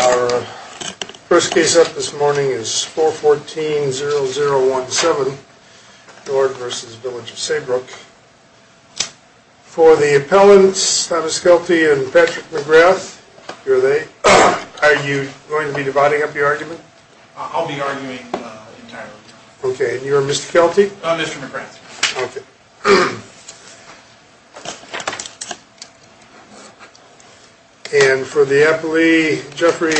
Our first case up this morning is 414-0017, Nord v. Village of Saybrook. For the appellants, Thomas Kelty and Patrick McGrath, are you going to be dividing up your argument? I'll be arguing entirely. Okay. And you are Mr. Kelty? Mr. McGrath. Okay. And for the appellee, Jeffrey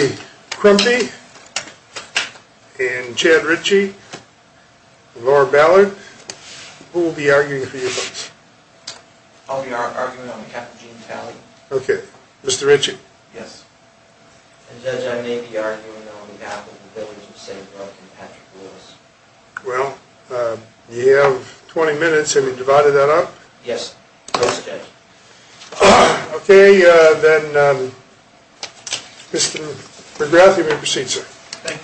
Crumby and Chad Ritchie, Laura Ballard, who will be arguing for you folks? I'll be arguing on behalf of Gene Talley. Okay. Mr. Ritchie? Yes. And Judge, I may be arguing on behalf of the Villages of Saybrook and Patrick Lewis. Well, you have 20 minutes, have you divided that up? Yes. Okay. Okay, then Mr. McGrath, you may proceed, sir. Thank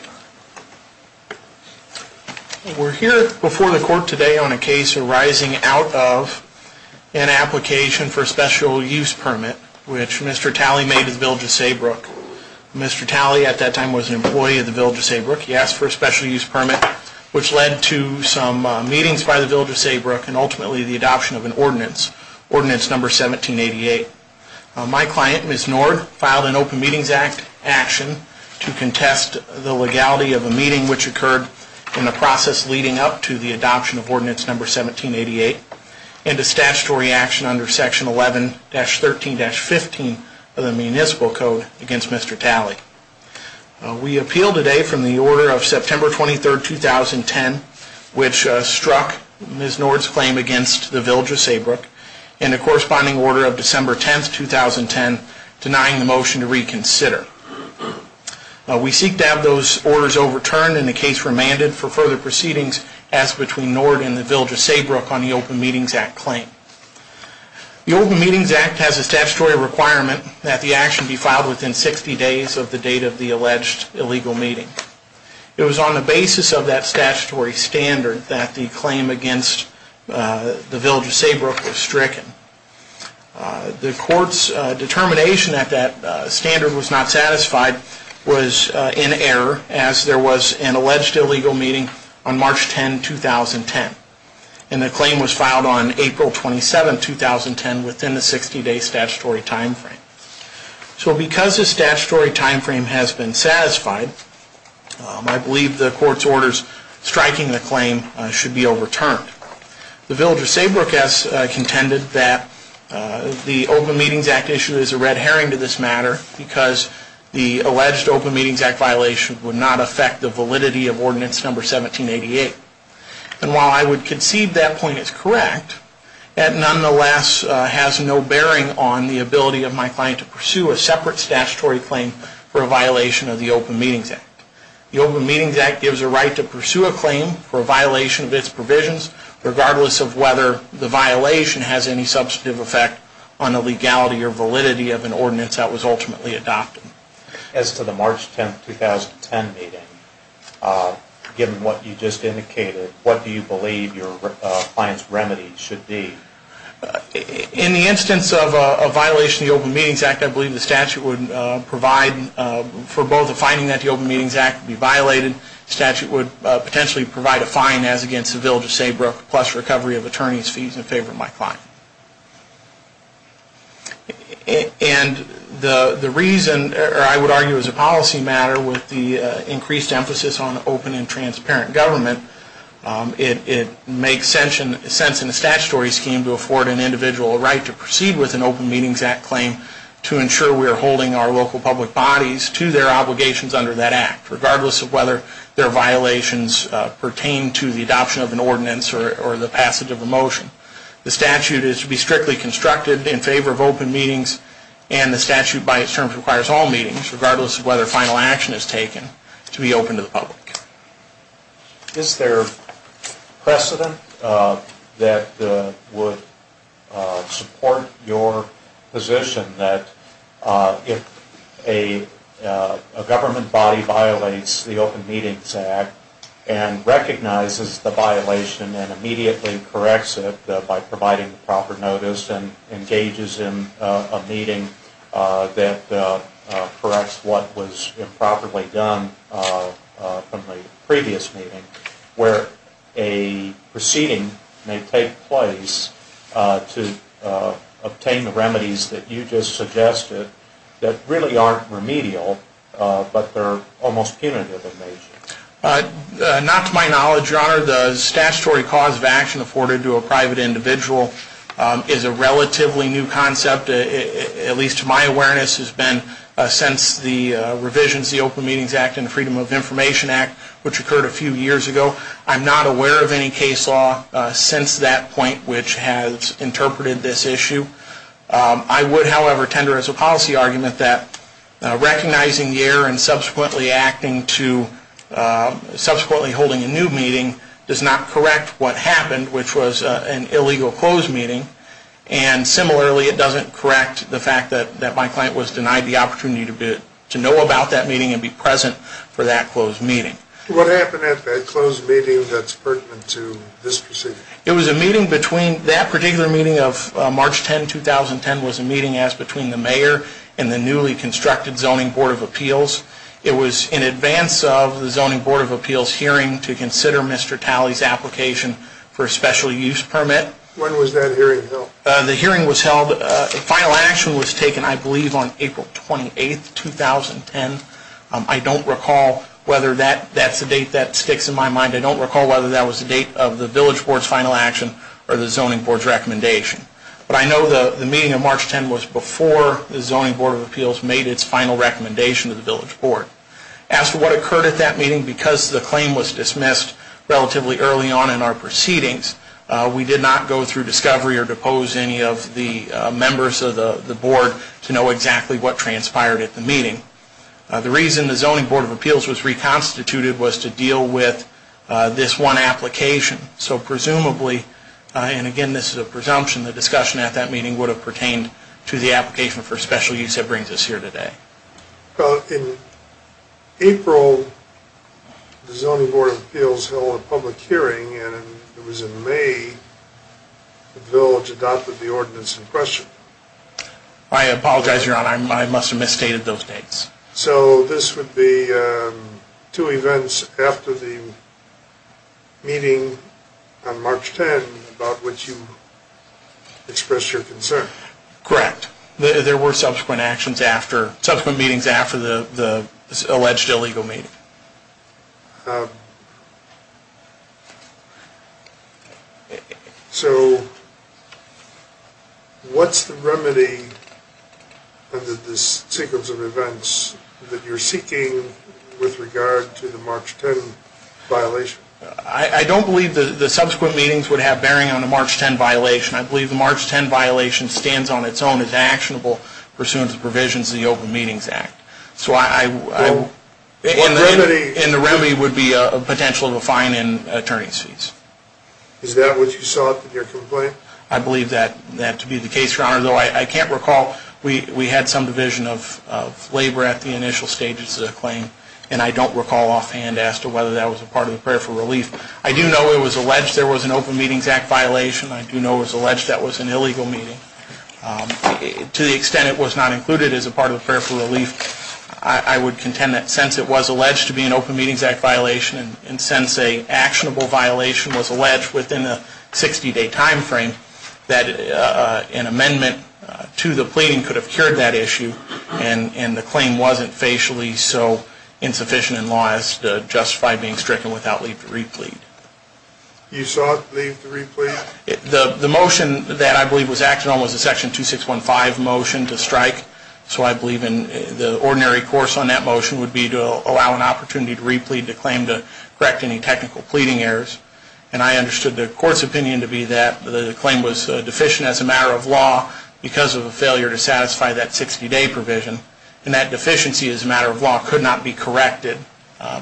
you. We're here before the court today on a case arising out of an application for a special use permit, which Mr. Talley made to the Villages of Saybrook. Mr. Talley, at that time, was an employee of the Villages of Saybrook. He asked for a special use permit, which led to some meetings by the Villages of Saybrook and ultimately the adoption of an ordinance, Ordinance No. 1788. My client, Ms. Nord, filed an Open Meetings Act action to contest the legality of a meeting which occurred in the process leading up to the adoption of Ordinance No. 1788 and a statutory action under Section 11-13-15 of the Municipal Code against Mr. Talley. We appeal today from the order of September 23, 2010, which struck Ms. Nord's claim against the Villages of Saybrook in the corresponding order of December 10, 2010, denying the motion to reconsider. We seek to have those orders overturned and the case remanded for further proceedings as between Nord and the Villages of Saybrook on the Open Meetings Act claim. The Open Meetings Act has a statutory requirement that the action be filed within 60 days of the date of the alleged illegal meeting. It was on the basis of that statutory standard that the claim against the Villages of Saybrook was stricken. The court's determination that that standard was not satisfied was in error, as there was an alleged illegal meeting on March 10, 2010, and the claim was filed on April 27, 2010, within the 60-day statutory timeframe. So because the statutory timeframe has been satisfied, I believe the court's orders striking the claim should be overturned. The Villages of Saybrook has contended that the Open Meetings Act issue is a red herring to this matter because the alleged Open Meetings Act violation would not affect the validity of Ordinance No. 1788. And while I would concede that point is correct, it nonetheless has no bearing on the ability of my client to pursue a separate statutory claim for a violation of the Open Meetings Act. The Open Meetings Act gives a right to pursue a claim for a violation of its provisions, regardless of whether the violation has any substantive effect on the legality or validity of an ordinance that was ultimately adopted. As to the March 10, 2010 meeting, given what you just indicated, what do you believe your client's remedy should be? In the instance of a violation of the Open Meetings Act, I believe the statute would provide for both the finding that the Open Meetings Act would be violated, the statute would potentially provide a fine as against the Villages of Saybrook, plus recovery of attorney's fees in favor of my client. And the reason, or I would argue as a policy matter, with the increased emphasis on open and transparent government, it makes sense in the statutory scheme to afford an individual a right to proceed with an Open Meetings Act claim to ensure we are holding our local public bodies to their obligations under that act, regardless of whether their violations pertain to the adoption of an ordinance or the passage of a motion. The statute is to be strictly constructed in favor of open meetings, and the statute by its terms requires all meetings, regardless of whether final action is taken, to be open to the public. Is there precedent that would support your position that if a government body violates the Open Meetings Act and recognizes the violation and immediately corrects it by providing proper from the previous meeting, where a proceeding may take place to obtain the remedies that you just suggested that really aren't remedial, but they're almost punitive in nature? Not to my knowledge, Your Honor. The statutory cause of action afforded to a private individual is a relatively new concept, at least to my awareness, has been since the revisions to the Open Meetings Act and the Information Act, which occurred a few years ago. I'm not aware of any case law since that point which has interpreted this issue. I would, however, tender as a policy argument that recognizing the error and subsequently holding a new meeting does not correct what happened, which was an illegal closed meeting, and similarly, it doesn't correct the fact that my client was denied the opportunity to know about that meeting and be present for that closed meeting. What happened at that closed meeting that's pertinent to this proceeding? It was a meeting between, that particular meeting of March 10, 2010, was a meeting as between the mayor and the newly constructed Zoning Board of Appeals. It was in advance of the Zoning Board of Appeals hearing to consider Mr. Talley's application for a special use permit. When was that hearing held? The hearing was held, the final action was taken, I believe, on April 28, 2010. I don't recall whether that's a date that sticks in my mind. I don't recall whether that was the date of the Village Board's final action or the Zoning Board's recommendation. But I know the meeting of March 10 was before the Zoning Board of Appeals made its final recommendation to the Village Board. As to what occurred at that meeting, because the claim was dismissed relatively early on in our proceedings, we did not go through discovery or depose any of the members of the Board to know exactly what transpired at the meeting. The reason the Zoning Board of Appeals was reconstituted was to deal with this one application. So presumably, and again this is a presumption, the discussion at that meeting would have pertained to the application for special use that brings us here today. Well, in April, the Zoning Board of Appeals held a public hearing, and it was in May that the Village adopted the ordinance in question. I apologize, Your Honor, I must have misstated those dates. So this would be two events after the meeting on March 10 about which you expressed your concern. Correct. There were subsequent meetings after the alleged illegal meeting. So what's the remedy under this sequence of events that you're seeking with regard to the March 10 violation? I don't believe the subsequent meetings would have bearing on the March 10 violation. I believe the March 10 violation stands on its own as actionable pursuant to the provisions of the Open Meetings Act, and the remedy would be a potential of a fine and attorney's fees. Is that what you sought with your complaint? I believe that to be the case, Your Honor, though I can't recall. We had some division of labor at the initial stages of the claim, and I don't recall offhand as to whether that was a part of the prayer for relief. I do know it was alleged there was an Open Meetings Act violation. I do know it was alleged that was an illegal meeting. To the extent it was not included as a part of the prayer for relief, I would contend that since it was alleged to be an Open Meetings Act violation, and since an actionable violation was alleged within a 60-day time frame, that an amendment to the pleading could have cured that issue, and the claim wasn't facially so insufficient in law as to justify being stricken without leave to replete. You sought leave to replete? The motion that I believe was acted on was a Section 2615 motion to strike, so I believe the ordinary course on that motion would be to allow an opportunity to replete the claim to correct any technical pleading errors, and I understood the Court's opinion to be that the claim was deficient as a matter of law because of a failure to satisfy that 60-day provision, and that deficiency as a matter of law could not be corrected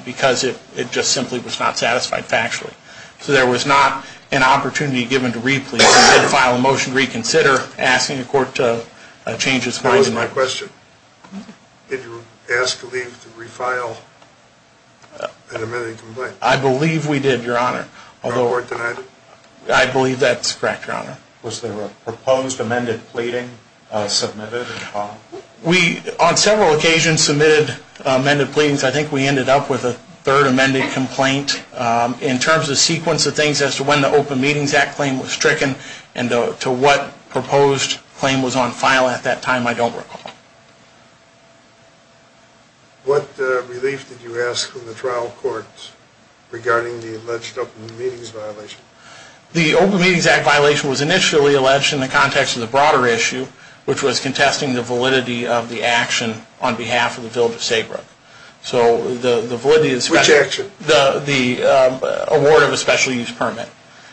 because it just simply was not satisfied factually. So there was not an opportunity given to replete. We did file a motion to reconsider, asking the Court to change its mind. I'll ask my question. Did you ask leave to refile an amended complaint? I believe we did, Your Honor. Your Court denied it? I believe that's correct, Your Honor. Was there a proposed amended pleading submitted? We, on several occasions, submitted amended pleadings. I think we ended up with a third amended complaint. In terms of sequence of things as to when the Open Meetings Act claim was stricken and to what proposed claim was on file at that time, I don't recall. What relief did you ask from the trial courts regarding the alleged Open Meetings Violation? The Open Meetings Act violation was initially alleged in the context of the broader issue, which was contesting the validity of the action on behalf of the village of Saybrook. So the validity of the special use permit.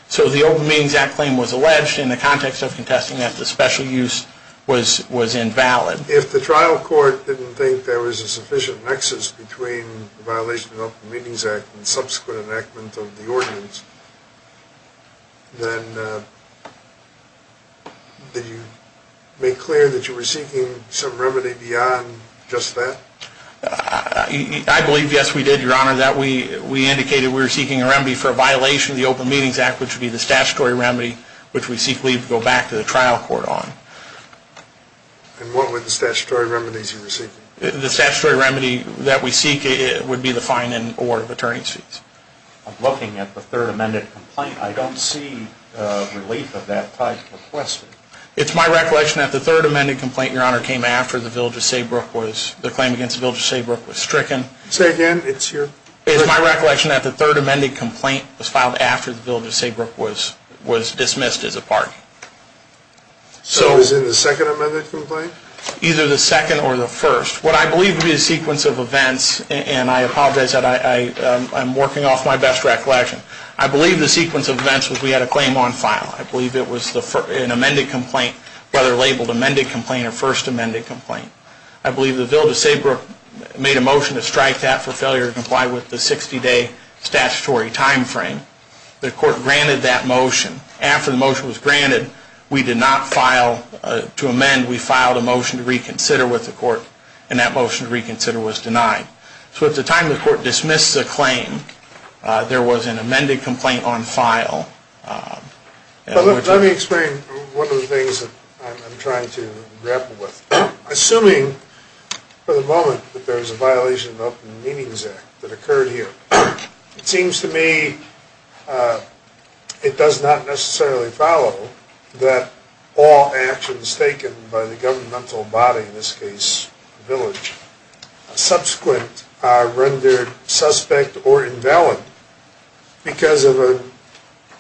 So the Open Meetings Act claim was alleged in the context of contesting that the special use was invalid. If the trial court didn't think there was a sufficient nexus between the violation of the Open Meetings Act and subsequent enactment of the ordinance, then did you make clear that you were seeking some remedy beyond just that? I believe, yes, we did, Your Honor, that we indicated we were seeking a remedy for a violation of the Open Meetings Act, which would be the statutory remedy, which we seek leave to go back to the trial court on. And what were the statutory remedies you were seeking? The statutory remedy that we seek would be the fine in order of attorney's fees. I'm looking at the third amended complaint. I don't see relief of that type requested. It's my recollection that the third amended complaint, Your Honor, came after the claim against the Village of Saybrook was stricken. Say again, it's your... It's my recollection that the third amended complaint was filed after the Village of Saybrook was dismissed as a party. So it was in the second amended complaint? Either the second or the first. What I believe to be the sequence of events, and I apologize, I'm working off my best recollection. I believe the sequence of events was we had a claim on file. I believe it was an amended complaint, whether labeled amended complaint or first amended complaint. I believe the Village of Saybrook made a motion to strike that for failure to comply with the 60-day statutory time frame. The court granted that motion. After the motion was granted, we did not file to amend. We filed a motion to reconsider with the court, and that motion to reconsider was denied. So at the time the court dismissed the claim, there was an amended complaint on file. Let me explain one of the things that I'm trying to grapple with. Assuming for the moment that there was a violation of the Open Meetings Act that occurred here, it seems to me it does not necessarily follow that all actions taken by the governmental body, in this case the village, subsequent are rendered suspect or invalid because of an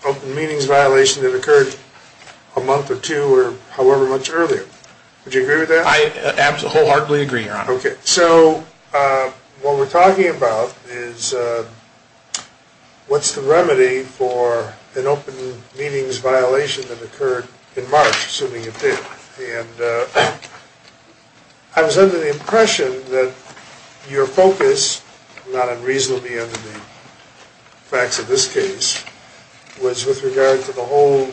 open meetings violation that occurred a month or two or however much earlier. Would you agree with that? I wholeheartedly agree, Your Honor. Okay. So what we're talking about is what's the remedy for an open meetings violation that occurred in March, assuming it did. And I was under the impression that your focus, not unreasonably under the facts of this case, was with regard to the whole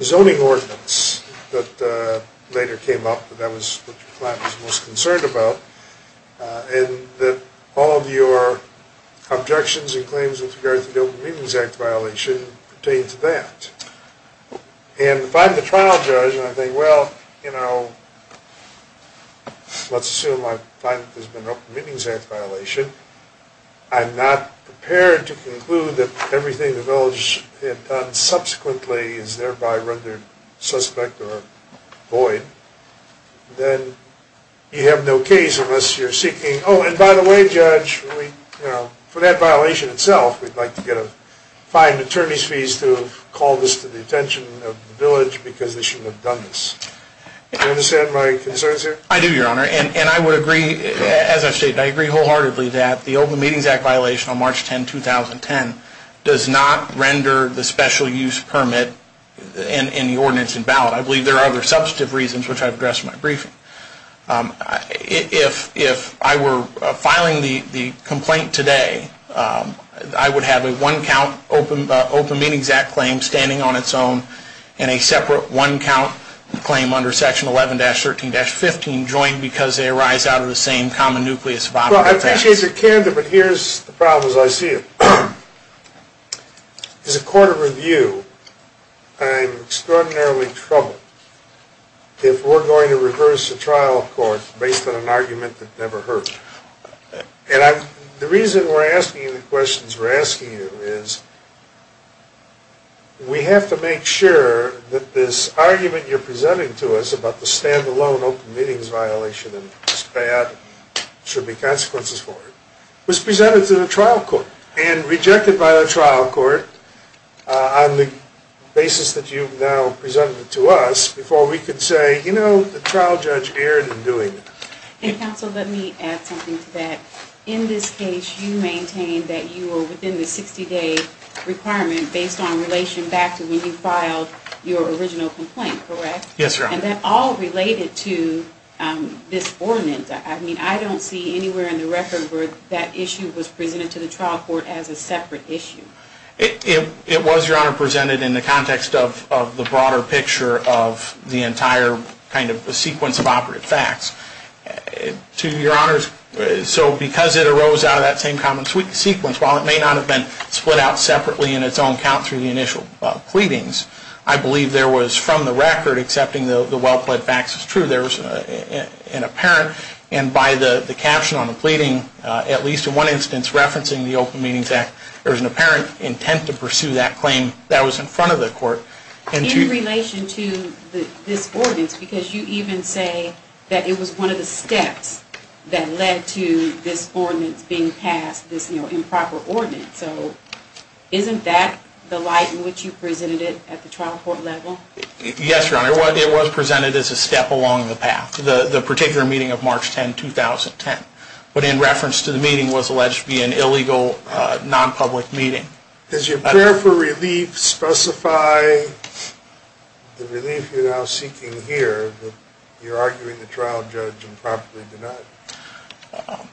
zoning ordinance that later came up that your client was most concerned about, and that all of your objections and claims with regard to the Open Meetings Act violation pertain to that. And if I'm the trial judge, and I think, well, let's assume my client has been up against an open meetings act violation, I'm not prepared to conclude that everything the village had done subsequently is thereby rendered suspect or void, then you have no case unless you're seeking, oh, and by the way, judge, for that violation itself, we'd like to get a fine and attorney's fees to have called this to the attention of the village because they shouldn't have done this. I do, Your Honor. And I would agree, as I've stated, I agree wholeheartedly that the Open Meetings Act violation on March 10, 2010 does not render the special use permit in the ordinance in ballot. I believe there are other substantive reasons which I've addressed in my briefing. If I were filing the complaint today, I would have a one-count Open Meetings Act claim standing on its own and a separate one-count claim under section 11-13-15 joined because they arise out of the same common nucleus. Well, I appreciate your candor, but here's the problem as I see it. As a court of review, I'm extraordinarily troubled if we're going to reverse a trial court based on an argument that never hurts. And the reason we're asking you the questions we're asking you is we have to make sure that this argument you're presenting to us about the standalone Open Meetings violation and it's bad and there should be consequences for it was presented to the trial court and rejected by the trial court on the basis that you've now presented it to us before we could say, you know, the trial judge erred in doing it. And counsel, let me add something to that. In this case, you maintain that you are within the 60-day requirement based on relation back to when you filed your original complaint, correct? Yes, Your Honor. And that all related to this ordinance. I mean, I don't see anywhere in the record where that issue was presented to the trial court as a separate issue. It was, Your Honor, presented in the context of the broader picture of the entire kind of sequence of operative facts. To Your Honor, so because it arose out of that same common sequence, while it may not have been split out separately in its own count through the initial pleadings, I believe there was, from the record, accepting the well-pled facts as true, there was an apparent and by the caption on the pleading, at least in one instance, referencing the Open Meetings Act, there was an apparent intent to pursue that claim that was in front of the court. In relation to this ordinance, because you even say that it was one of the steps that led to this ordinance being passed, this improper ordinance. So isn't that the light in which you presented it at the trial court level? Yes, Your Honor. It was presented as a step along the path, the particular meeting of March 10, 2010, but in reference to the meeting was alleged to be an illegal, non-public meeting. Does your prayer for relief specify the relief you're now seeking here, that you're arguing the trial judge improperly denied?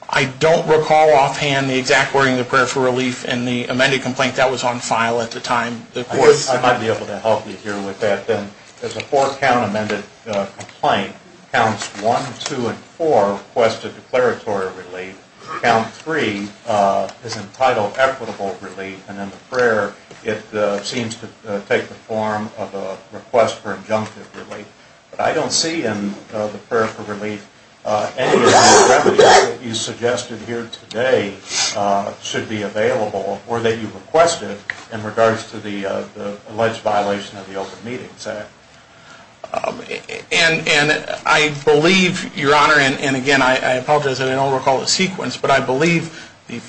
I don't recall offhand the exact wording of the prayer for relief in the amended complaint that was on file at the time. I might be able to help you here with that then. There's a four-count amended complaint. Counts 1, 2, and 4 request a declaratory relief. Count 3 is entitled equitable relief. And in the prayer, it seems to take the form of a request for injunctive relief. But I don't see in the prayer for relief any of the remedies that you suggested here today should be available or that you requested in regards to the alleged violation of the Open Meetings Act. And I believe, Your Honor, and again, I apologize that I don't recall the sequence, but I believe the,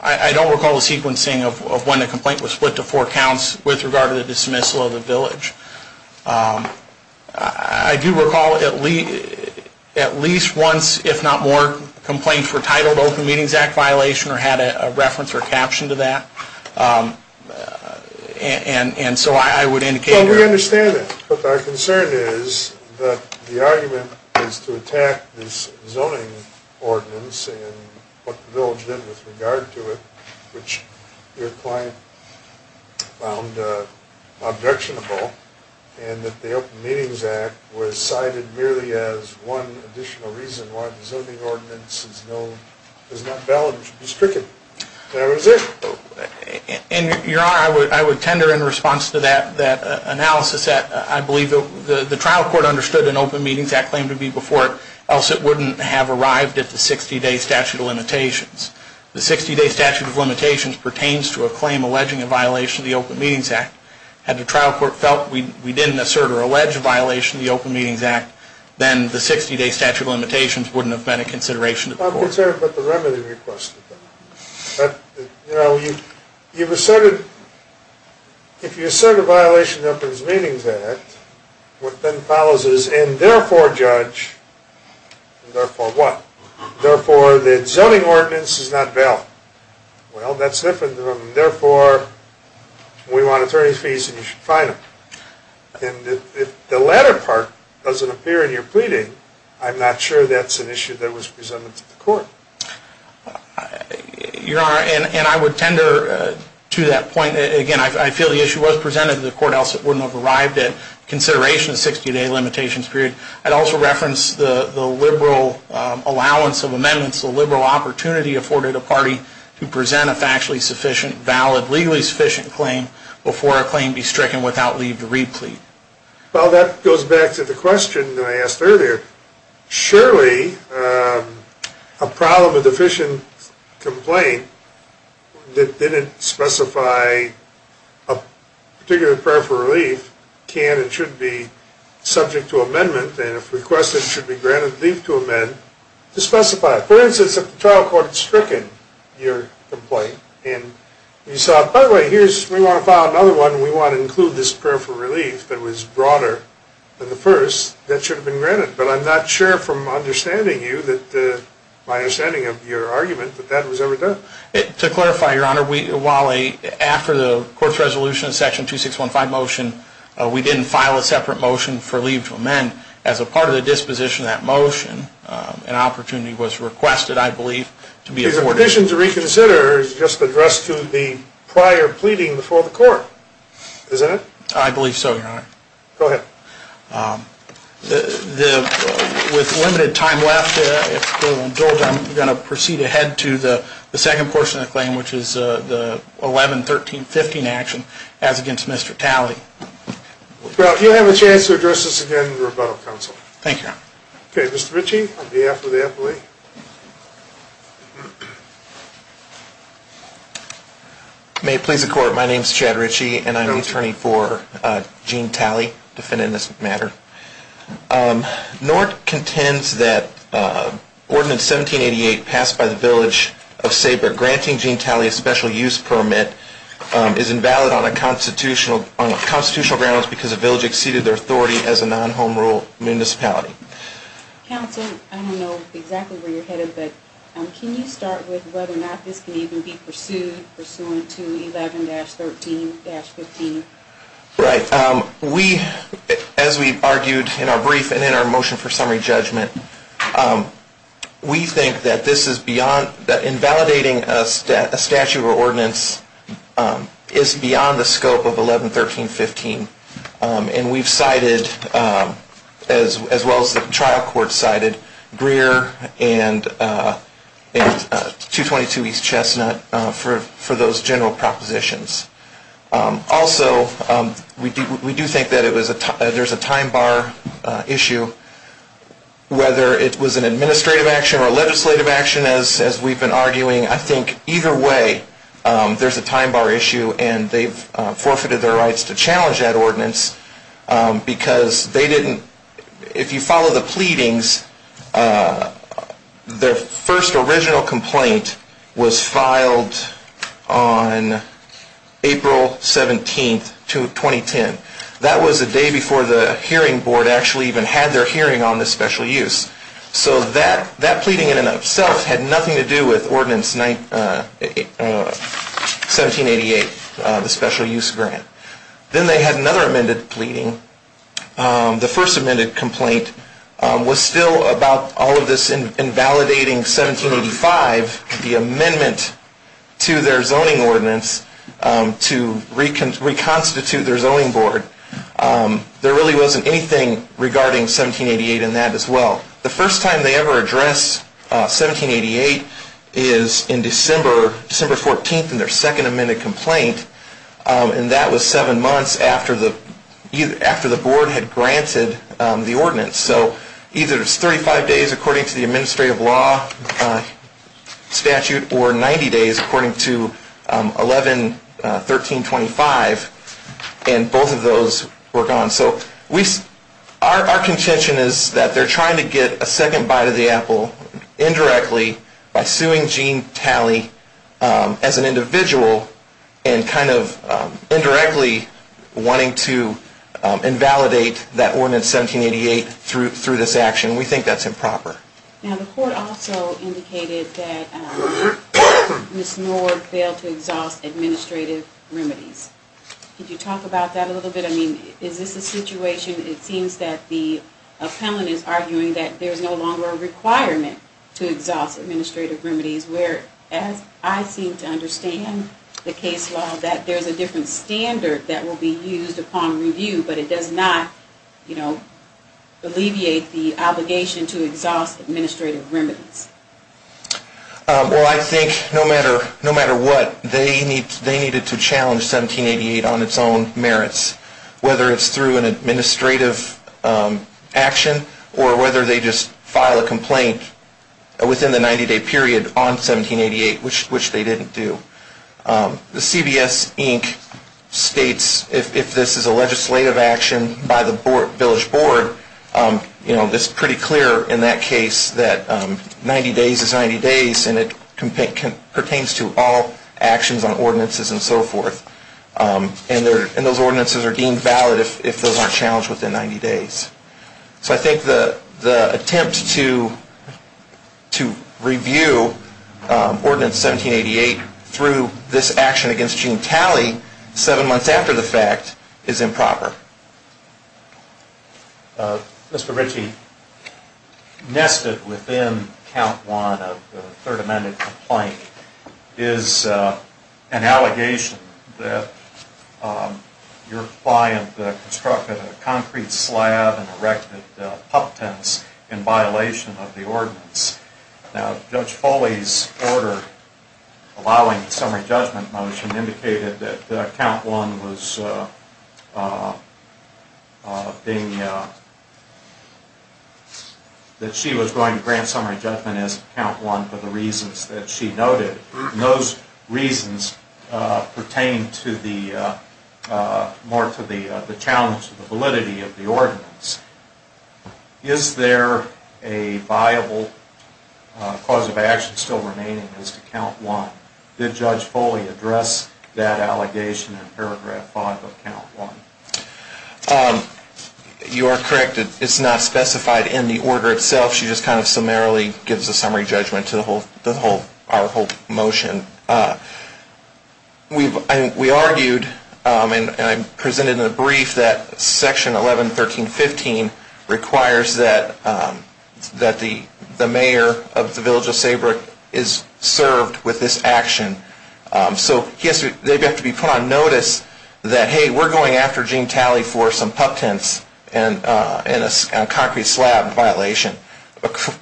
I don't recall the sequencing of when the complaint was split to four counts with regard to the dismissal of the village. I do recall at least once, if not more, complaints were titled Open Meetings Act violation or had a reference or caption to that. And so I would indicate that. Well, we understand that. But our concern is that the argument is to attack this zoning ordinance and what the village did with regard to it, which your client found objectionable, and that the Open Meetings Act was cited merely as one additional reason why the zoning ordinance is not valid and should be stricken. That was it. And, Your Honor, I would tender in response to that analysis that I believe the trial court understood an Open Meetings Act claim to be before it, else it wouldn't have arrived at the 60-day statute of limitations. The 60-day statute of limitations pertains to a claim alleging a violation of the Open Meetings Act. Had the trial court felt we didn't assert or allege a violation of the Open Meetings Act, then the 60-day statute of limitations wouldn't have been a consideration. I'm concerned about the remedy requested. You know, you've asserted, if you assert a violation of the Open Meetings Act, what then follows is, and therefore, Judge, and therefore what? Therefore, the zoning ordinance is not valid. Well, that's different from, therefore, we want attorney's fees and you should fine them. And if the latter part doesn't appear in your pleading, I'm not sure that's an issue that was presented to the court. Your Honor, and I would tender to that point, again, I feel the issue was presented to the court, else it wouldn't have arrived at consideration of 60-day limitations period. I'd also reference the liberal allowance of amendments, the liberal opportunity afforded a party to present a factually sufficient, valid, legally sufficient claim before a claim be stricken without leave to re-plead. Well, that goes back to the question that I asked earlier. Surely, a problem of deficient complaint that didn't specify a particular prayer for relief can and should be subject to amendment, and if requested, should be granted leave to amend, to specify. For instance, if the trial court stricken your complaint, and you saw, by the way, here's, we want to file another one, we want to include this prayer for relief that was broader than the first, that should have been granted. But I'm not sure from understanding you that, my understanding of your argument, that that was ever done. To clarify, Your Honor, we, while a, after the court's resolution of section 2615 motion, we didn't file a separate motion for leave to amend, as a part of the disposition of that motion, an opportunity was requested, I believe, to be afforded. The disposition to reconsider is just addressed to the prior pleading before the court, isn't it? I believe so, Your Honor. Go ahead. The, with limited time left, if you'll indulge, I'm going to proceed ahead to the second portion of the claim, which is the 11-13-15 action, as against Mr. Talley. Well, you'll have a chance to address this again in the rebuttal council. Thank you, Your Honor. Okay, Mr. Ritchie, on behalf of the appellee. May it please the court, my name's Chad Ritchie, and I'm the attorney for Gene Talley, defendant in this matter. North contends that Ordinance 1788, passed by the Village of Saber, granting Gene Talley a special use permit, is invalid on a constitutional grounds, because the village exceeded their authority as a non-home rule municipality. Counsel, I don't know exactly where you're headed, but can you start with whether or not this can even be pursued, pursuant to 11-13-15? Right, we, as we've argued in our brief and in our motion for summary judgment, we think that this is beyond, invalidating a statute or ordinance is beyond the scope of 11-13-15. And we've cited, as well as the trial court cited, Greer and 222 East Chestnut for those general propositions. Also, we do think that there's a time bar issue, whether it was an administrative action or a legislative action, as we've been arguing, I think either way, there's a time to challenge that ordinance, because they didn't, if you follow the pleadings, their first original complaint was filed on April 17th, 2010. That was the day before the hearing board actually even had their hearing on the special use. So that, that pleading in and of itself had nothing to do with Ordinance 1788, the special use grant. Then they had another amended pleading. The first amended complaint was still about all of this invalidating 1785, the amendment to their zoning ordinance to reconstitute their zoning board. There really wasn't anything regarding 1788 in that as well. The first time they ever addressed 1788 is in December, December 14th in their second amended complaint, and that was seven months after the board had granted the ordinance. So either it was 35 days according to the administrative law statute or 90 days according to 11-1325, and both of those were gone. So our contention is that they're trying to get a second bite of the apple indirectly by suing Gene Talley as an individual and kind of indirectly wanting to invalidate that ordinance 1788 through this action. We think that's improper. Now the court also indicated that Ms. Nord failed to exhaust administrative remedies. Could you talk about that a little bit? I mean, is this a situation, it seems that the appellant is arguing that there's no longer a requirement to exhaust administrative remedies where, as I seem to understand the case law, that there's a different standard that will be used upon review, but it does not, you know, alleviate the obligation to exhaust administrative remedies. Well, I think no matter what, they needed to challenge 1788 on its own merits, whether it's through an administrative action or whether they just file a complaint within the 90-day period on 1788, which they didn't do. The CBS, Inc. states if this is a legislative action by the village board, you know, it's pretty clear in that case that 90 days is 90 days and it pertains to all actions on ordinances and so forth. And those ordinances are deemed valid if those aren't challenged within 90 days. So I think the attempt to review Ordinance 1788 through this action against Gene Talley seven months after the fact is improper. Mr. Ritchie, nested within Count 1 of the Third Amended Complaint is an allegation that your client constructed a concrete slab and erected pup tents in violation of the ordinance. Now, Judge Foley's order allowing the summary judgment motion indicated that Count 1 was being, that she was going to grant summary judgment as Count 1 for the reasons that she noted. And those reasons pertain to the, more to the challenge of the validity of the ordinance. Is there a viable cause of action still remaining as to Count 1? Did Judge Foley address that allegation in paragraph 5 of Count 1? You are correct. It's not specified in the order itself. She just kind of summarily gives a summary judgment to the whole, the whole, our whole motion. We've, we argued and I presented in a brief that Section 11-1315 requires that, that the mayor of the village of Saybrook is served with this action. So he has to, they have to be put on notice that, hey, we're going after Gene Talley for some pup tents and in a concrete slab violation.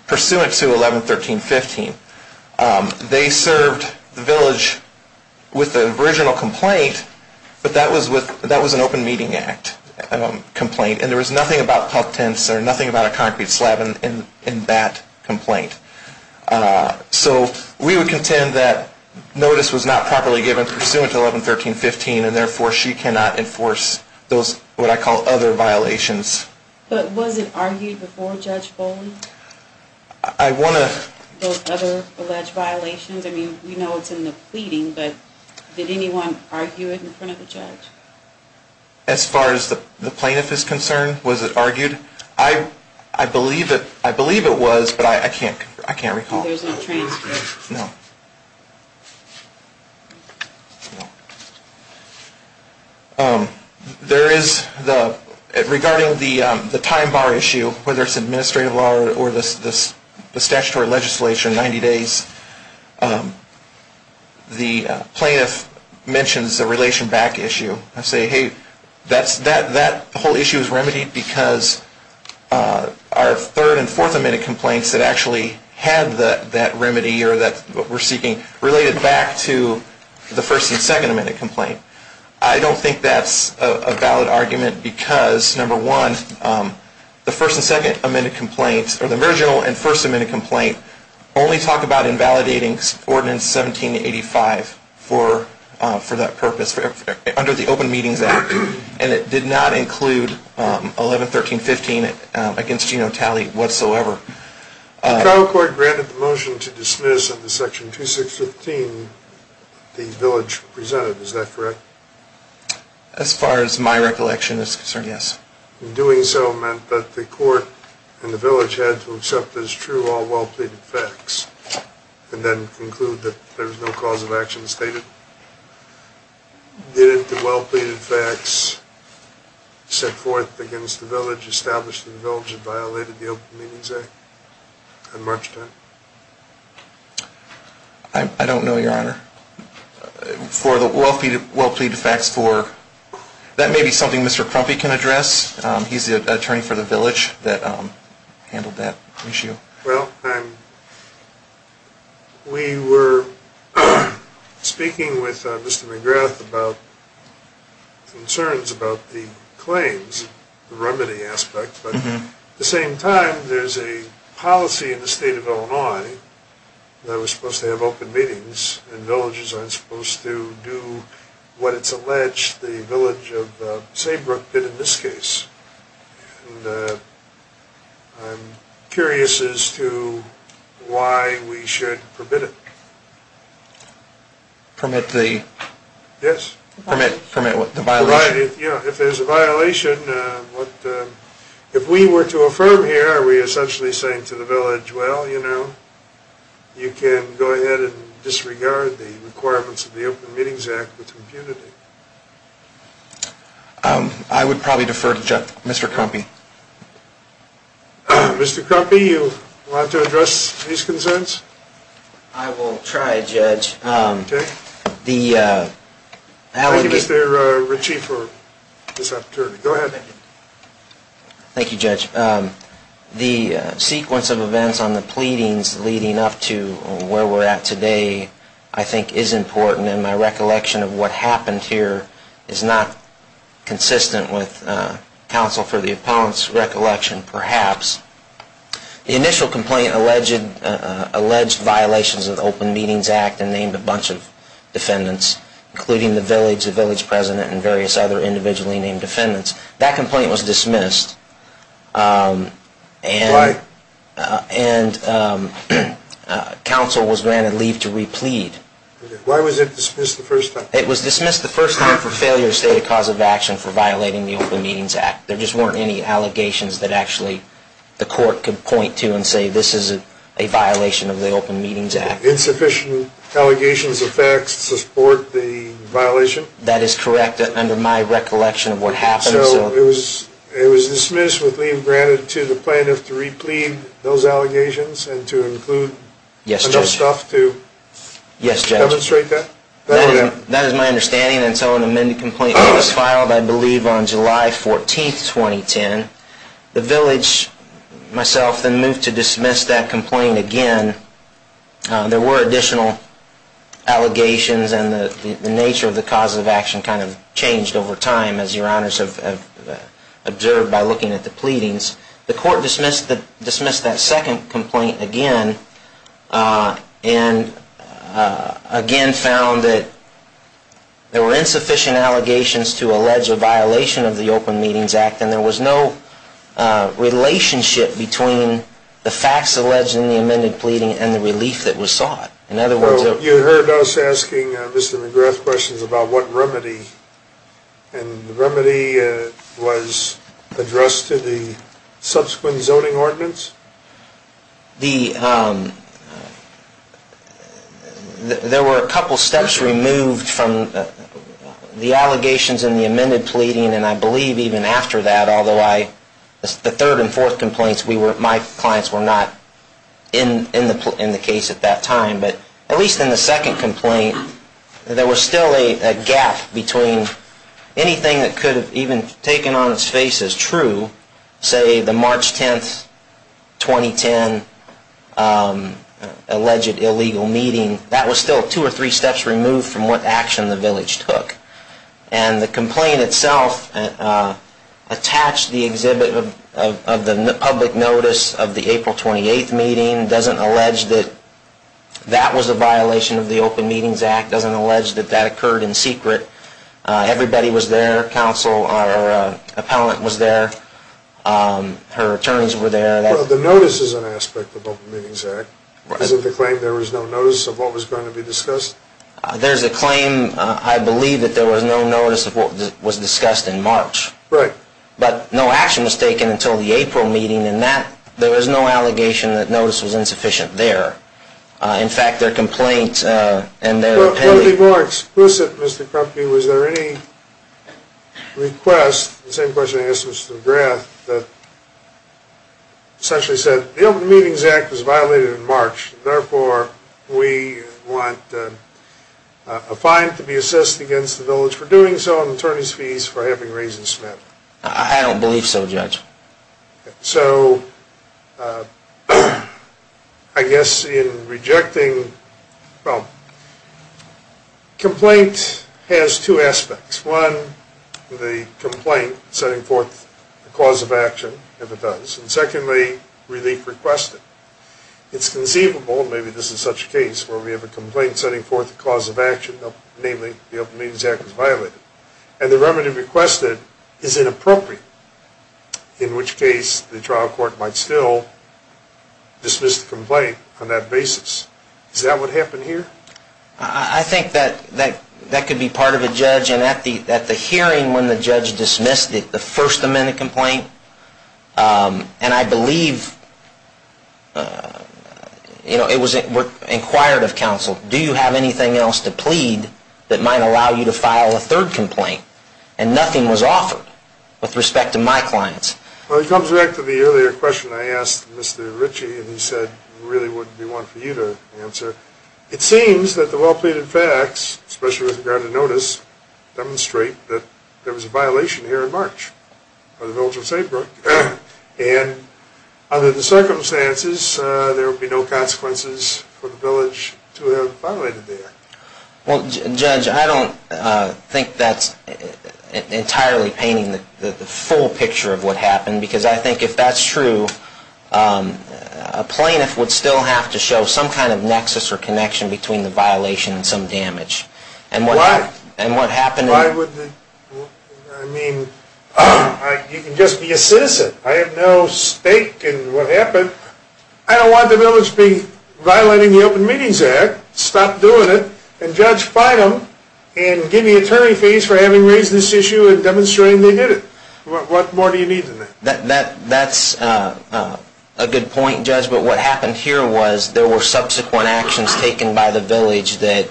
Pursuant to 11-1315, they served the village with the original complaint, but that was with, that was an open meeting act complaint and there was nothing about pup tents or nothing about a concrete slab in that complaint. So we would contend that notice was not properly given pursuant to 11-1315 and therefore she cannot enforce those, what I call other violations. But was it argued before Judge Foley? I want to. Those other alleged violations? I mean, we know it's in the pleading, but did anyone argue it in front of the judge? As far as the plaintiff is concerned, was it argued? I believe it, I believe it was, but I can't, I can't recall. There's no transcript? No. There is the, regarding the time bar issue, whether it's administrative law or the statutory legislation, 90 days, the plaintiff mentions the relation back issue. I say, hey, that whole issue is remedied because our third and fourth amended complaints that actually had that remedy or that we're seeking related back to the first and second amended complaint. I don't think that's a valid argument because, number one, the first and second amended complaints or the original and first amended complaint only talk about invalidating ordinance 1785 for that purpose, under the Open Meetings Act. And it did not include 1113.15 against Geno Talley whatsoever. The trial court granted the motion to dismiss under section 2615 the village presented, is that correct? As far as my recollection is concerned, yes. In doing so meant that the court and the village had to accept as true all well pleaded facts and then conclude that there was no cause of action stated. Did the well pleaded facts set forth against the village, establish that the village had violated the Open Meetings Act at March 10? I don't know, your honor. For the well pleaded facts for, that may be something Mr. Crumpy can address. He's the attorney for the village that handled that issue. Well, we were speaking with Mr. McGrath about concerns about the claims, the remedy aspect. But at the same time, there's a policy in the state of Illinois that we're supposed to have open meetings and villages aren't supposed to do what it's alleged the village of Saybrook did in this case. And I'm curious as to why we should permit it. Permit the? Yes. Permit what? The violation? Yeah. If there's a violation, if we were to affirm here, are we essentially saying to the village, well, you know, you can go ahead and disregard the requirements of the Open Meetings Act with impunity. I would probably defer to Mr. Crumpy. Mr. Crumpy, you want to address these concerns? I will try, Judge. Okay. Thank you, Mr. Ritchie, for this opportunity. Go ahead. Thank you, Judge. The sequence of events on the pleadings leading up to where we're at today, I think is important. And my recollection of what happened here is not consistent with counsel for the opponent's recollection, perhaps. The initial complaint alleged violations of the Open Meetings Act and named a bunch of defendants, including the village, the village president, and various other individually named defendants. That complaint was dismissed. And counsel was granted leave to replead. Why was it dismissed the first time? It was dismissed the first time for failure to state a cause of action for violating the Open Meetings Act. There just weren't any allegations that actually the court could point to and say this is a violation of the Open Meetings Act. Insufficient allegations of facts to support the violation? That is correct, under my recollection of what happened. So it was dismissed with leave granted to the plaintiff to replead those allegations and to include enough stuff to? Yes, Judge. That is my understanding. And so an amended complaint was filed, I believe, on July 14, 2010. The village, myself, then moved to dismiss that complaint again. There were additional allegations and the nature of the cause of action kind of changed over time, as your honors have observed by looking at the pleadings. The court dismissed that second complaint again. And again found that there were insufficient allegations to allege a violation of the Open Meetings Act. And there was no relationship between the facts alleged in the amended pleading and the relief that was sought. Well, you heard us asking Mr. McGrath questions about what remedy. And the remedy was addressed to the subsequent zoning ordinance? Yes. There were a couple steps removed from the allegations in the amended pleading. And I believe even after that, although the third and fourth complaints, my clients were not in the case at that time. But at least in the second complaint, there was still a gap between anything that could have even taken on its face as true, say the March 10, 2010, alleged illegal meeting. That was still two or three steps removed from what action the village took. And the complaint itself attached the exhibit of the public notice of the April 28 meeting, doesn't allege that that was a violation of the Open Meetings Act, doesn't allege that that occurred in secret. Everybody was there. Counsel, our appellant was there. Her attorneys were there. Well, the notice is an aspect of the Open Meetings Act. Is it the claim there was no notice of what was going to be discussed? There's a claim, I believe, that there was no notice of what was discussed in March. Right. But no action was taken until the April meeting. And there was no allegation that notice was insufficient there. In fact, their complaint and their appeal... To be more explicit, Mr. Krupke, was there any request, the same question I asked Mr. McGrath, that essentially said the Open Meetings Act was violated in March, and therefore we want a fine to be assessed against the village for doing so and attorney's fees for having raised and spent? I don't believe so, Judge. So I guess in rejecting... Well, complaint has two aspects. One, the complaint setting forth the cause of action, if it does. And secondly, relief requested. It's conceivable, maybe this is such a case, where we have a complaint setting forth the cause of action, namely the Open Meetings Act was violated. And the remedy requested is inappropriate. In which case, the trial court might still dismiss the complaint on that basis. Is that what happened here? I think that could be part of a judge. And at the hearing when the judge dismissed it, the First Amendment complaint, and I believe it was inquired of counsel, do you have anything else to plead that might allow you to file a third complaint? And nothing was offered with respect to my clients. Well, it comes back to the earlier question I asked Mr. Ritchie, and he said there really wouldn't be one for you to answer. It seems that the well-pleaded facts, especially with regard to notice, demonstrate that there was a violation here in March of the village of St. Brook. And under the circumstances, there would be no consequences for the village to have violated the act. Well, Judge, I don't think that's entirely painting the full picture of what happened. Because I think if that's true, a plaintiff would still have to show some kind of nexus or connection between the violation and some damage. Why? And what happened? Why would they? I mean, you can just be a citizen. I have no stake in what happened. I don't want the village to be violating the Open Meetings Act. Stop doing it, and Judge, fight them, and give me attorney fees for having raised this issue and demonstrating they did it. What more do you need than that? That's a good point, Judge. But what happened here was there were subsequent actions taken by the village that,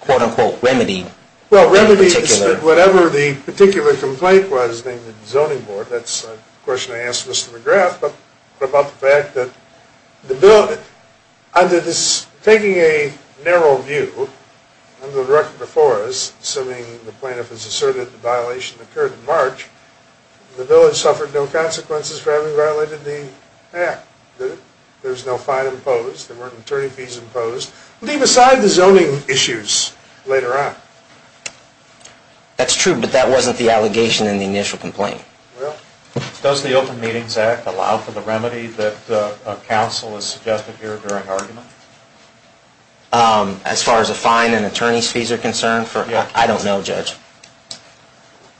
quote unquote, remedied the particular. Well, remedied whatever the particular complaint was named the zoning board. That's a question I asked Mr. McGrath. But about the fact that the village, under this, taking a narrow view, under the record before us, assuming the plaintiff has asserted the violation occurred in March, the village suffered no consequences for having violated the act. There's no fine imposed. There weren't attorney fees imposed. Leave aside the zoning issues later on. That's true, but that wasn't the allegation in the initial complaint. Well, does the Open Meetings Act allow for the remedy that counsel has suggested here during argument? As far as a fine and attorney fees are concerned, I don't know, Judge.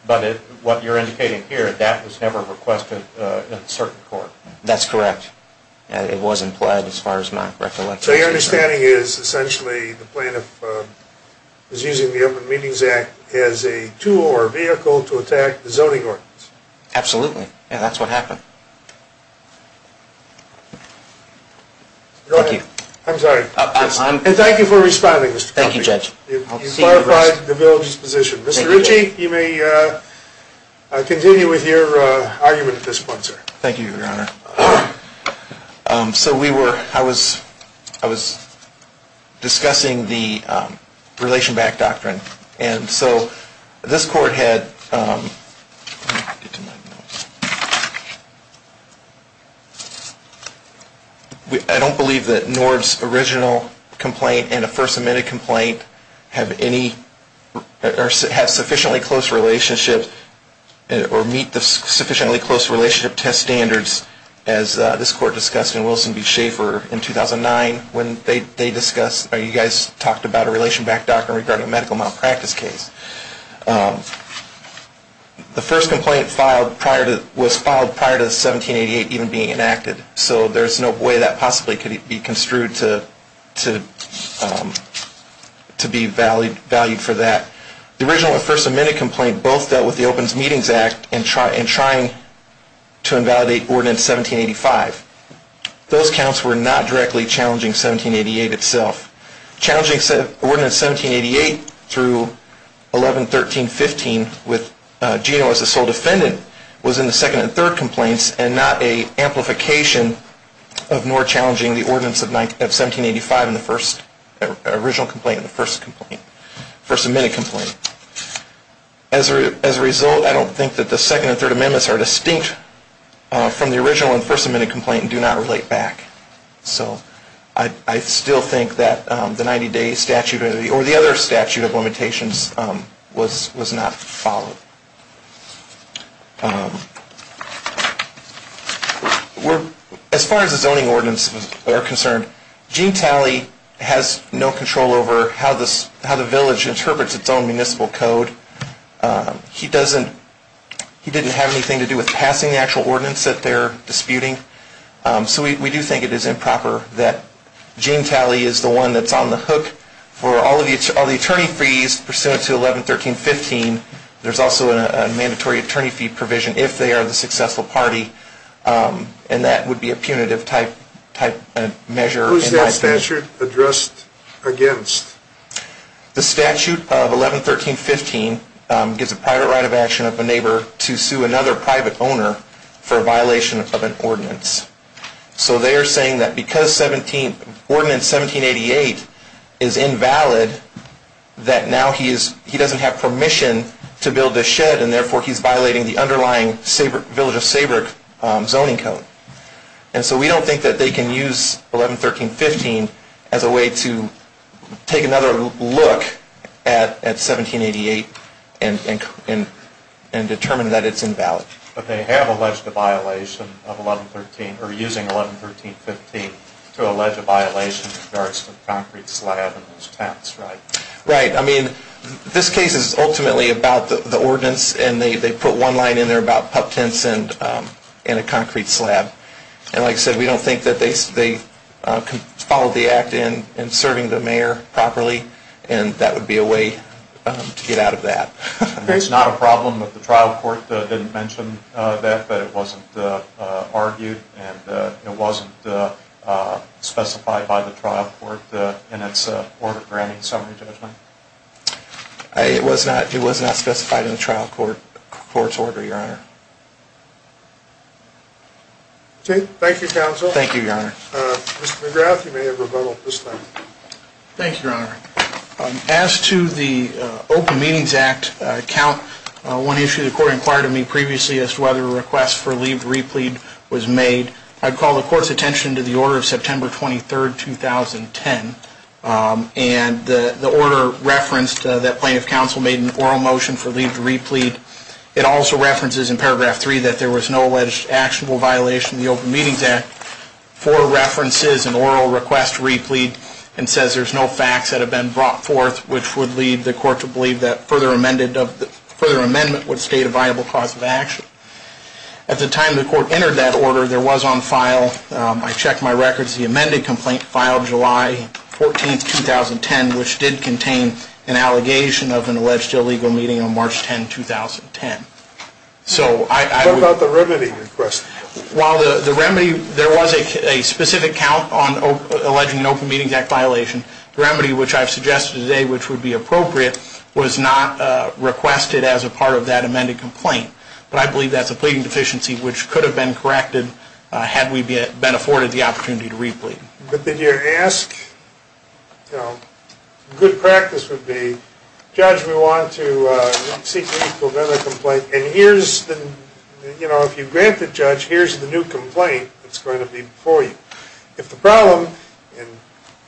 But what you're indicating here, that was never requested in certain court. That's correct. It wasn't pled as far as my recollection. So your understanding is essentially the plaintiff is using the Open Meetings Act as a tool or vehicle to attack the zoning ordinance? Absolutely. And that's what happened. Go ahead. I'm sorry. And thank you for responding, Mr. Connolly. Thank you, Judge. You've clarified the village's position. Mr. Ritchie, you may continue with your argument at this point, sir. Thank you, Your Honor. So we were, I was discussing the Relation Back Doctrine. And so this court had, I don't believe that NORD's original complaint and a First Amendment complaint have any, or have sufficiently close relationship, or meet the sufficiently close relationship test standards as this court discussed in Wilson v. Schaffer in 2009 when they discussed, you guys talked about a Relation Back Doctrine regarding a medical malpractice case. The first complaint filed prior to, was filed prior to 1788 even being enacted. So there's no way that possibly could be construed to be valued for that. The original and First Amendment complaint both dealt with the Open Meetings Act and trying to invalidate Ordinance 1785. Those counts were not directly challenging 1788 itself. Challenging Ordinance 1788 through 11, 13, 15 with Gino as the sole defendant was in the second and third complaints and not a amplification of NORD challenging the ordinance of 1785 in the first, original complaint and the first complaint, First Amendment complaint. As a result, I don't think that the second and third amendments are distinct from the original and First Amendment complaint and do not relate back. So I still think that the 90 day statute or the other statute of limitations was not followed. As far as the zoning ordinances are concerned, Gene Talley has no control over how the village interprets its own municipal code. He didn't have anything to do with passing the actual ordinance that they're disputing. So we do think it is improper that Gene Talley is the one that's on the hook for all the attorney fees pursuant to 11, 13, 15. There's also a mandatory attorney fee provision if they are the successful party and that would be a punitive type measure. Who is that statute addressed against? The statute of 11, 13, 15 gives a private right of action of a neighbor to sue another private owner for a violation of an ordinance. So they are saying that because ordinance 1788 is invalid that now he doesn't have permission to build a shed and therefore he's violating the underlying Village of Seabrook zoning code. So we don't think that they can use 11, 13, 15 as a way to take another look at 1788 and determine that it's invalid. But they have alleged a violation of 11, 13, or using 11, 13, 15 to allege a violation in regards to the concrete slab and those tents, right? Right. I mean, this case is ultimately about the ordinance and they put one line in there about pup tents and a concrete slab. And like I said, we don't think that they followed the act in serving the mayor properly and that would be a way to get out of that. It's not a problem that the trial court didn't mention that, but it wasn't argued and it wasn't specified by the trial court in its order granting summary judgment. It was not specified in the trial court's order, Your Honor. Thank you, counsel. Thank you, Your Honor. Mr. McGrath, you may have rebuttal at this time. Thank you, Your Honor. As to the Open Meetings Act account, one issue the court inquired of me previously as to whether a request for leave to replead was made, I'd call the court's attention to the order of September 23, 2010. And the order referenced that plaintiff counsel made an oral motion for leave to replead. It also references in paragraph 3 that there was no alleged actionable violation of the Open Meetings Act for references and oral request to replead and says there's no facts that have been brought forth which would lead the court to believe that further amendment would state a viable cause of action. At the time the court entered that order, there was on file, I checked my records, the amended complaint filed July 14, 2010, which did contain an allegation of an alleged illegal meeting on March 10, 2010. So I would What about the remedy request? While the remedy, there was a specific count on alleging an Open Meetings Act violation, the remedy which I've suggested today which would be appropriate was not requested as a part of that amended complaint. But I believe that's a pleading deficiency which could have been corrected had we been afforded the opportunity to replead. But did you ask, you know, good practice would be, Judge, we want to seek leave for another complaint and here's the, you know, if you grant the judge, here's the new complaint that's going to be before you. If the problem, and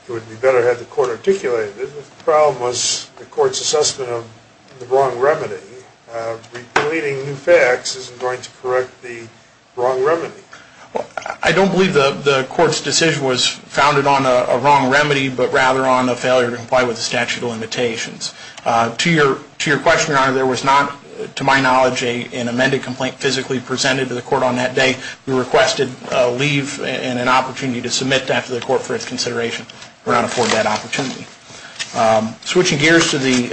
it would be better had the court articulated it, if the problem was the court's assessment of the wrong remedy, repeating new facts isn't going to correct the wrong remedy. I don't believe the court's decision was founded on a wrong remedy but rather on a failure to comply with the statute of limitations. To your question, Your Honor, there was not, to my knowledge, an amended complaint physically presented to the court on that day. We requested leave and an opportunity to submit that to the court for its consideration. We're not afforded that opportunity. Switching gears to the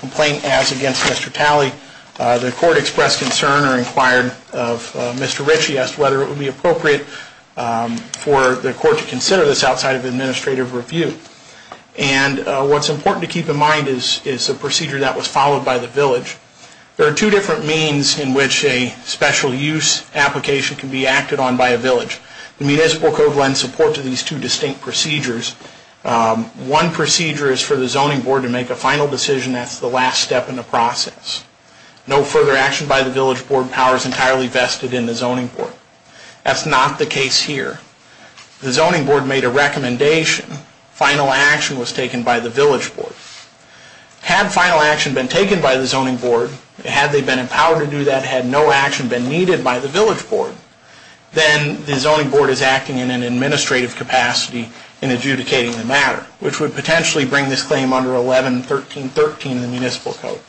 complaint as against Mr. Talley, the court expressed concern or inquired of Mr. Ritchie as to whether it would be appropriate for the court to consider this outside of administrative review. And what's important to keep in mind is the procedure that was followed by the village. There are two different means in which a special use application can be acted on by a village. The municipal code lends support to these two distinct procedures. One procedure is for the zoning board to make a final decision. That's the last step in the process. No further action by the village board powers entirely vested in the zoning board. That's not the case here. The zoning board made a recommendation. Final action was taken by the village board. Had final action been taken by the zoning board, had they been empowered to do that, had no action been needed by the village board, then the zoning board is acting in an administrative capacity in adjudicating the matter, which would potentially bring this claim under 11.13.13 in the municipal code.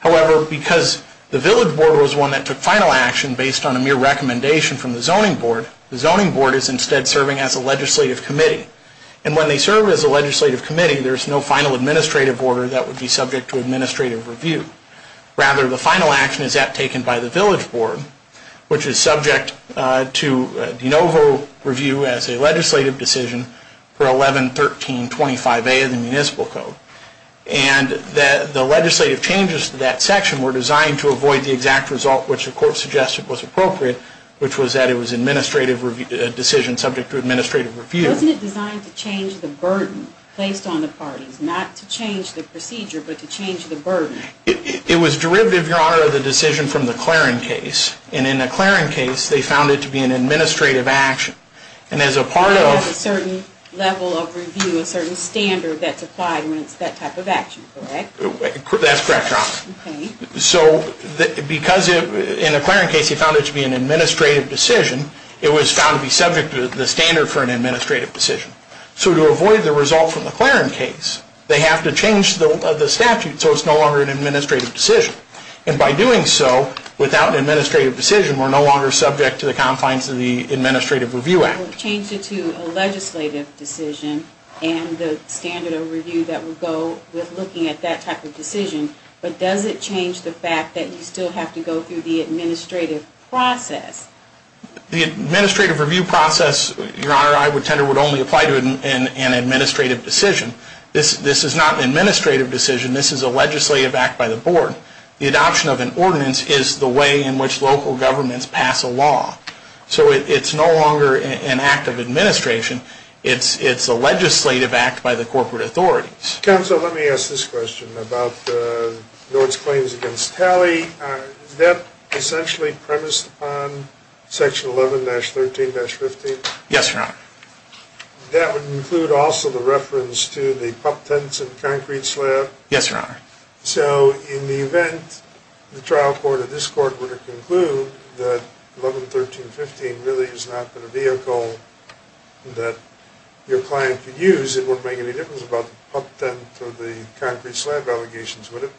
However, because the village board was the one that took final action based on a mere recommendation from the zoning board, the zoning board is instead serving as a legislative committee. And when they serve as a legislative committee, there's no final administrative order that would be subject to administrative review. Rather, the final action is that taken by the village board, which is subject to de novo review as a legislative decision for 11.13.25a of the municipal code. And the legislative changes to that section were designed to avoid the exact result which the court suggested was appropriate, which was that it was an administrative decision subject to administrative review. Wasn't it designed to change the burden placed on the parties, not to change the procedure, but to change the burden? It was derivative, Your Honor, of the decision from the Claren case. And in the Claren case, they found it to be an administrative action. And as a part of a certain level of review, a certain standard that's applied when it's that type of action, correct? That's correct, Your Honor. So because in the Claren case, he found it to be an administrative decision, it was found to be subject to the standard for an administrative decision. So to avoid the result from the Claren case, they have to change the statute so it's no longer an administrative decision. And by doing so, without an administrative decision, we're no longer subject to the confines of the Administrative Review Act. It would change it to a legislative decision and the standard of review that would go with looking at that type of decision. But does it change the fact that you still have to go through the administrative process? The administrative review process, Your Honor, I would tend to only apply to an administrative decision. This is not an administrative decision. This is a legislative act by the board. The adoption of an ordinance is the way in which local governments pass a law. So it's no longer an act of administration. It's a legislative act by the corporate authorities. Counsel, let me ask this question about the Lord's Claims against Talley. Is that essentially premised upon Section 11-13-15? Yes, Your Honor. That would include also the reference to the pup tents and concrete slab? Yes, Your Honor. So in the event the trial court of this court were to conclude that 11-13-15 really is not the vehicle that your client could use, it wouldn't make any difference about the pup tent or the concrete slab allegations, would it?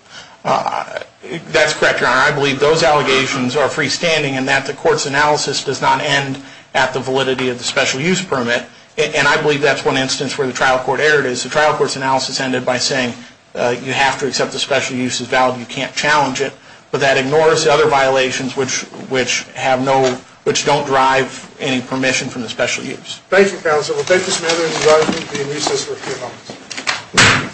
That's correct, Your Honor. I believe those allegations are freestanding and that the court's analysis does not end at the validity of the special use permit. And I believe that's one instance where the trial court erred is the trial court's analysis ended by saying you have to accept the special use is valid. You can't challenge it. But that ignores the other violations which have no, which don't drive any permission from the special use. Thank you, counsel. We'll take this matter into the argument. We'll be in recess for a few moments.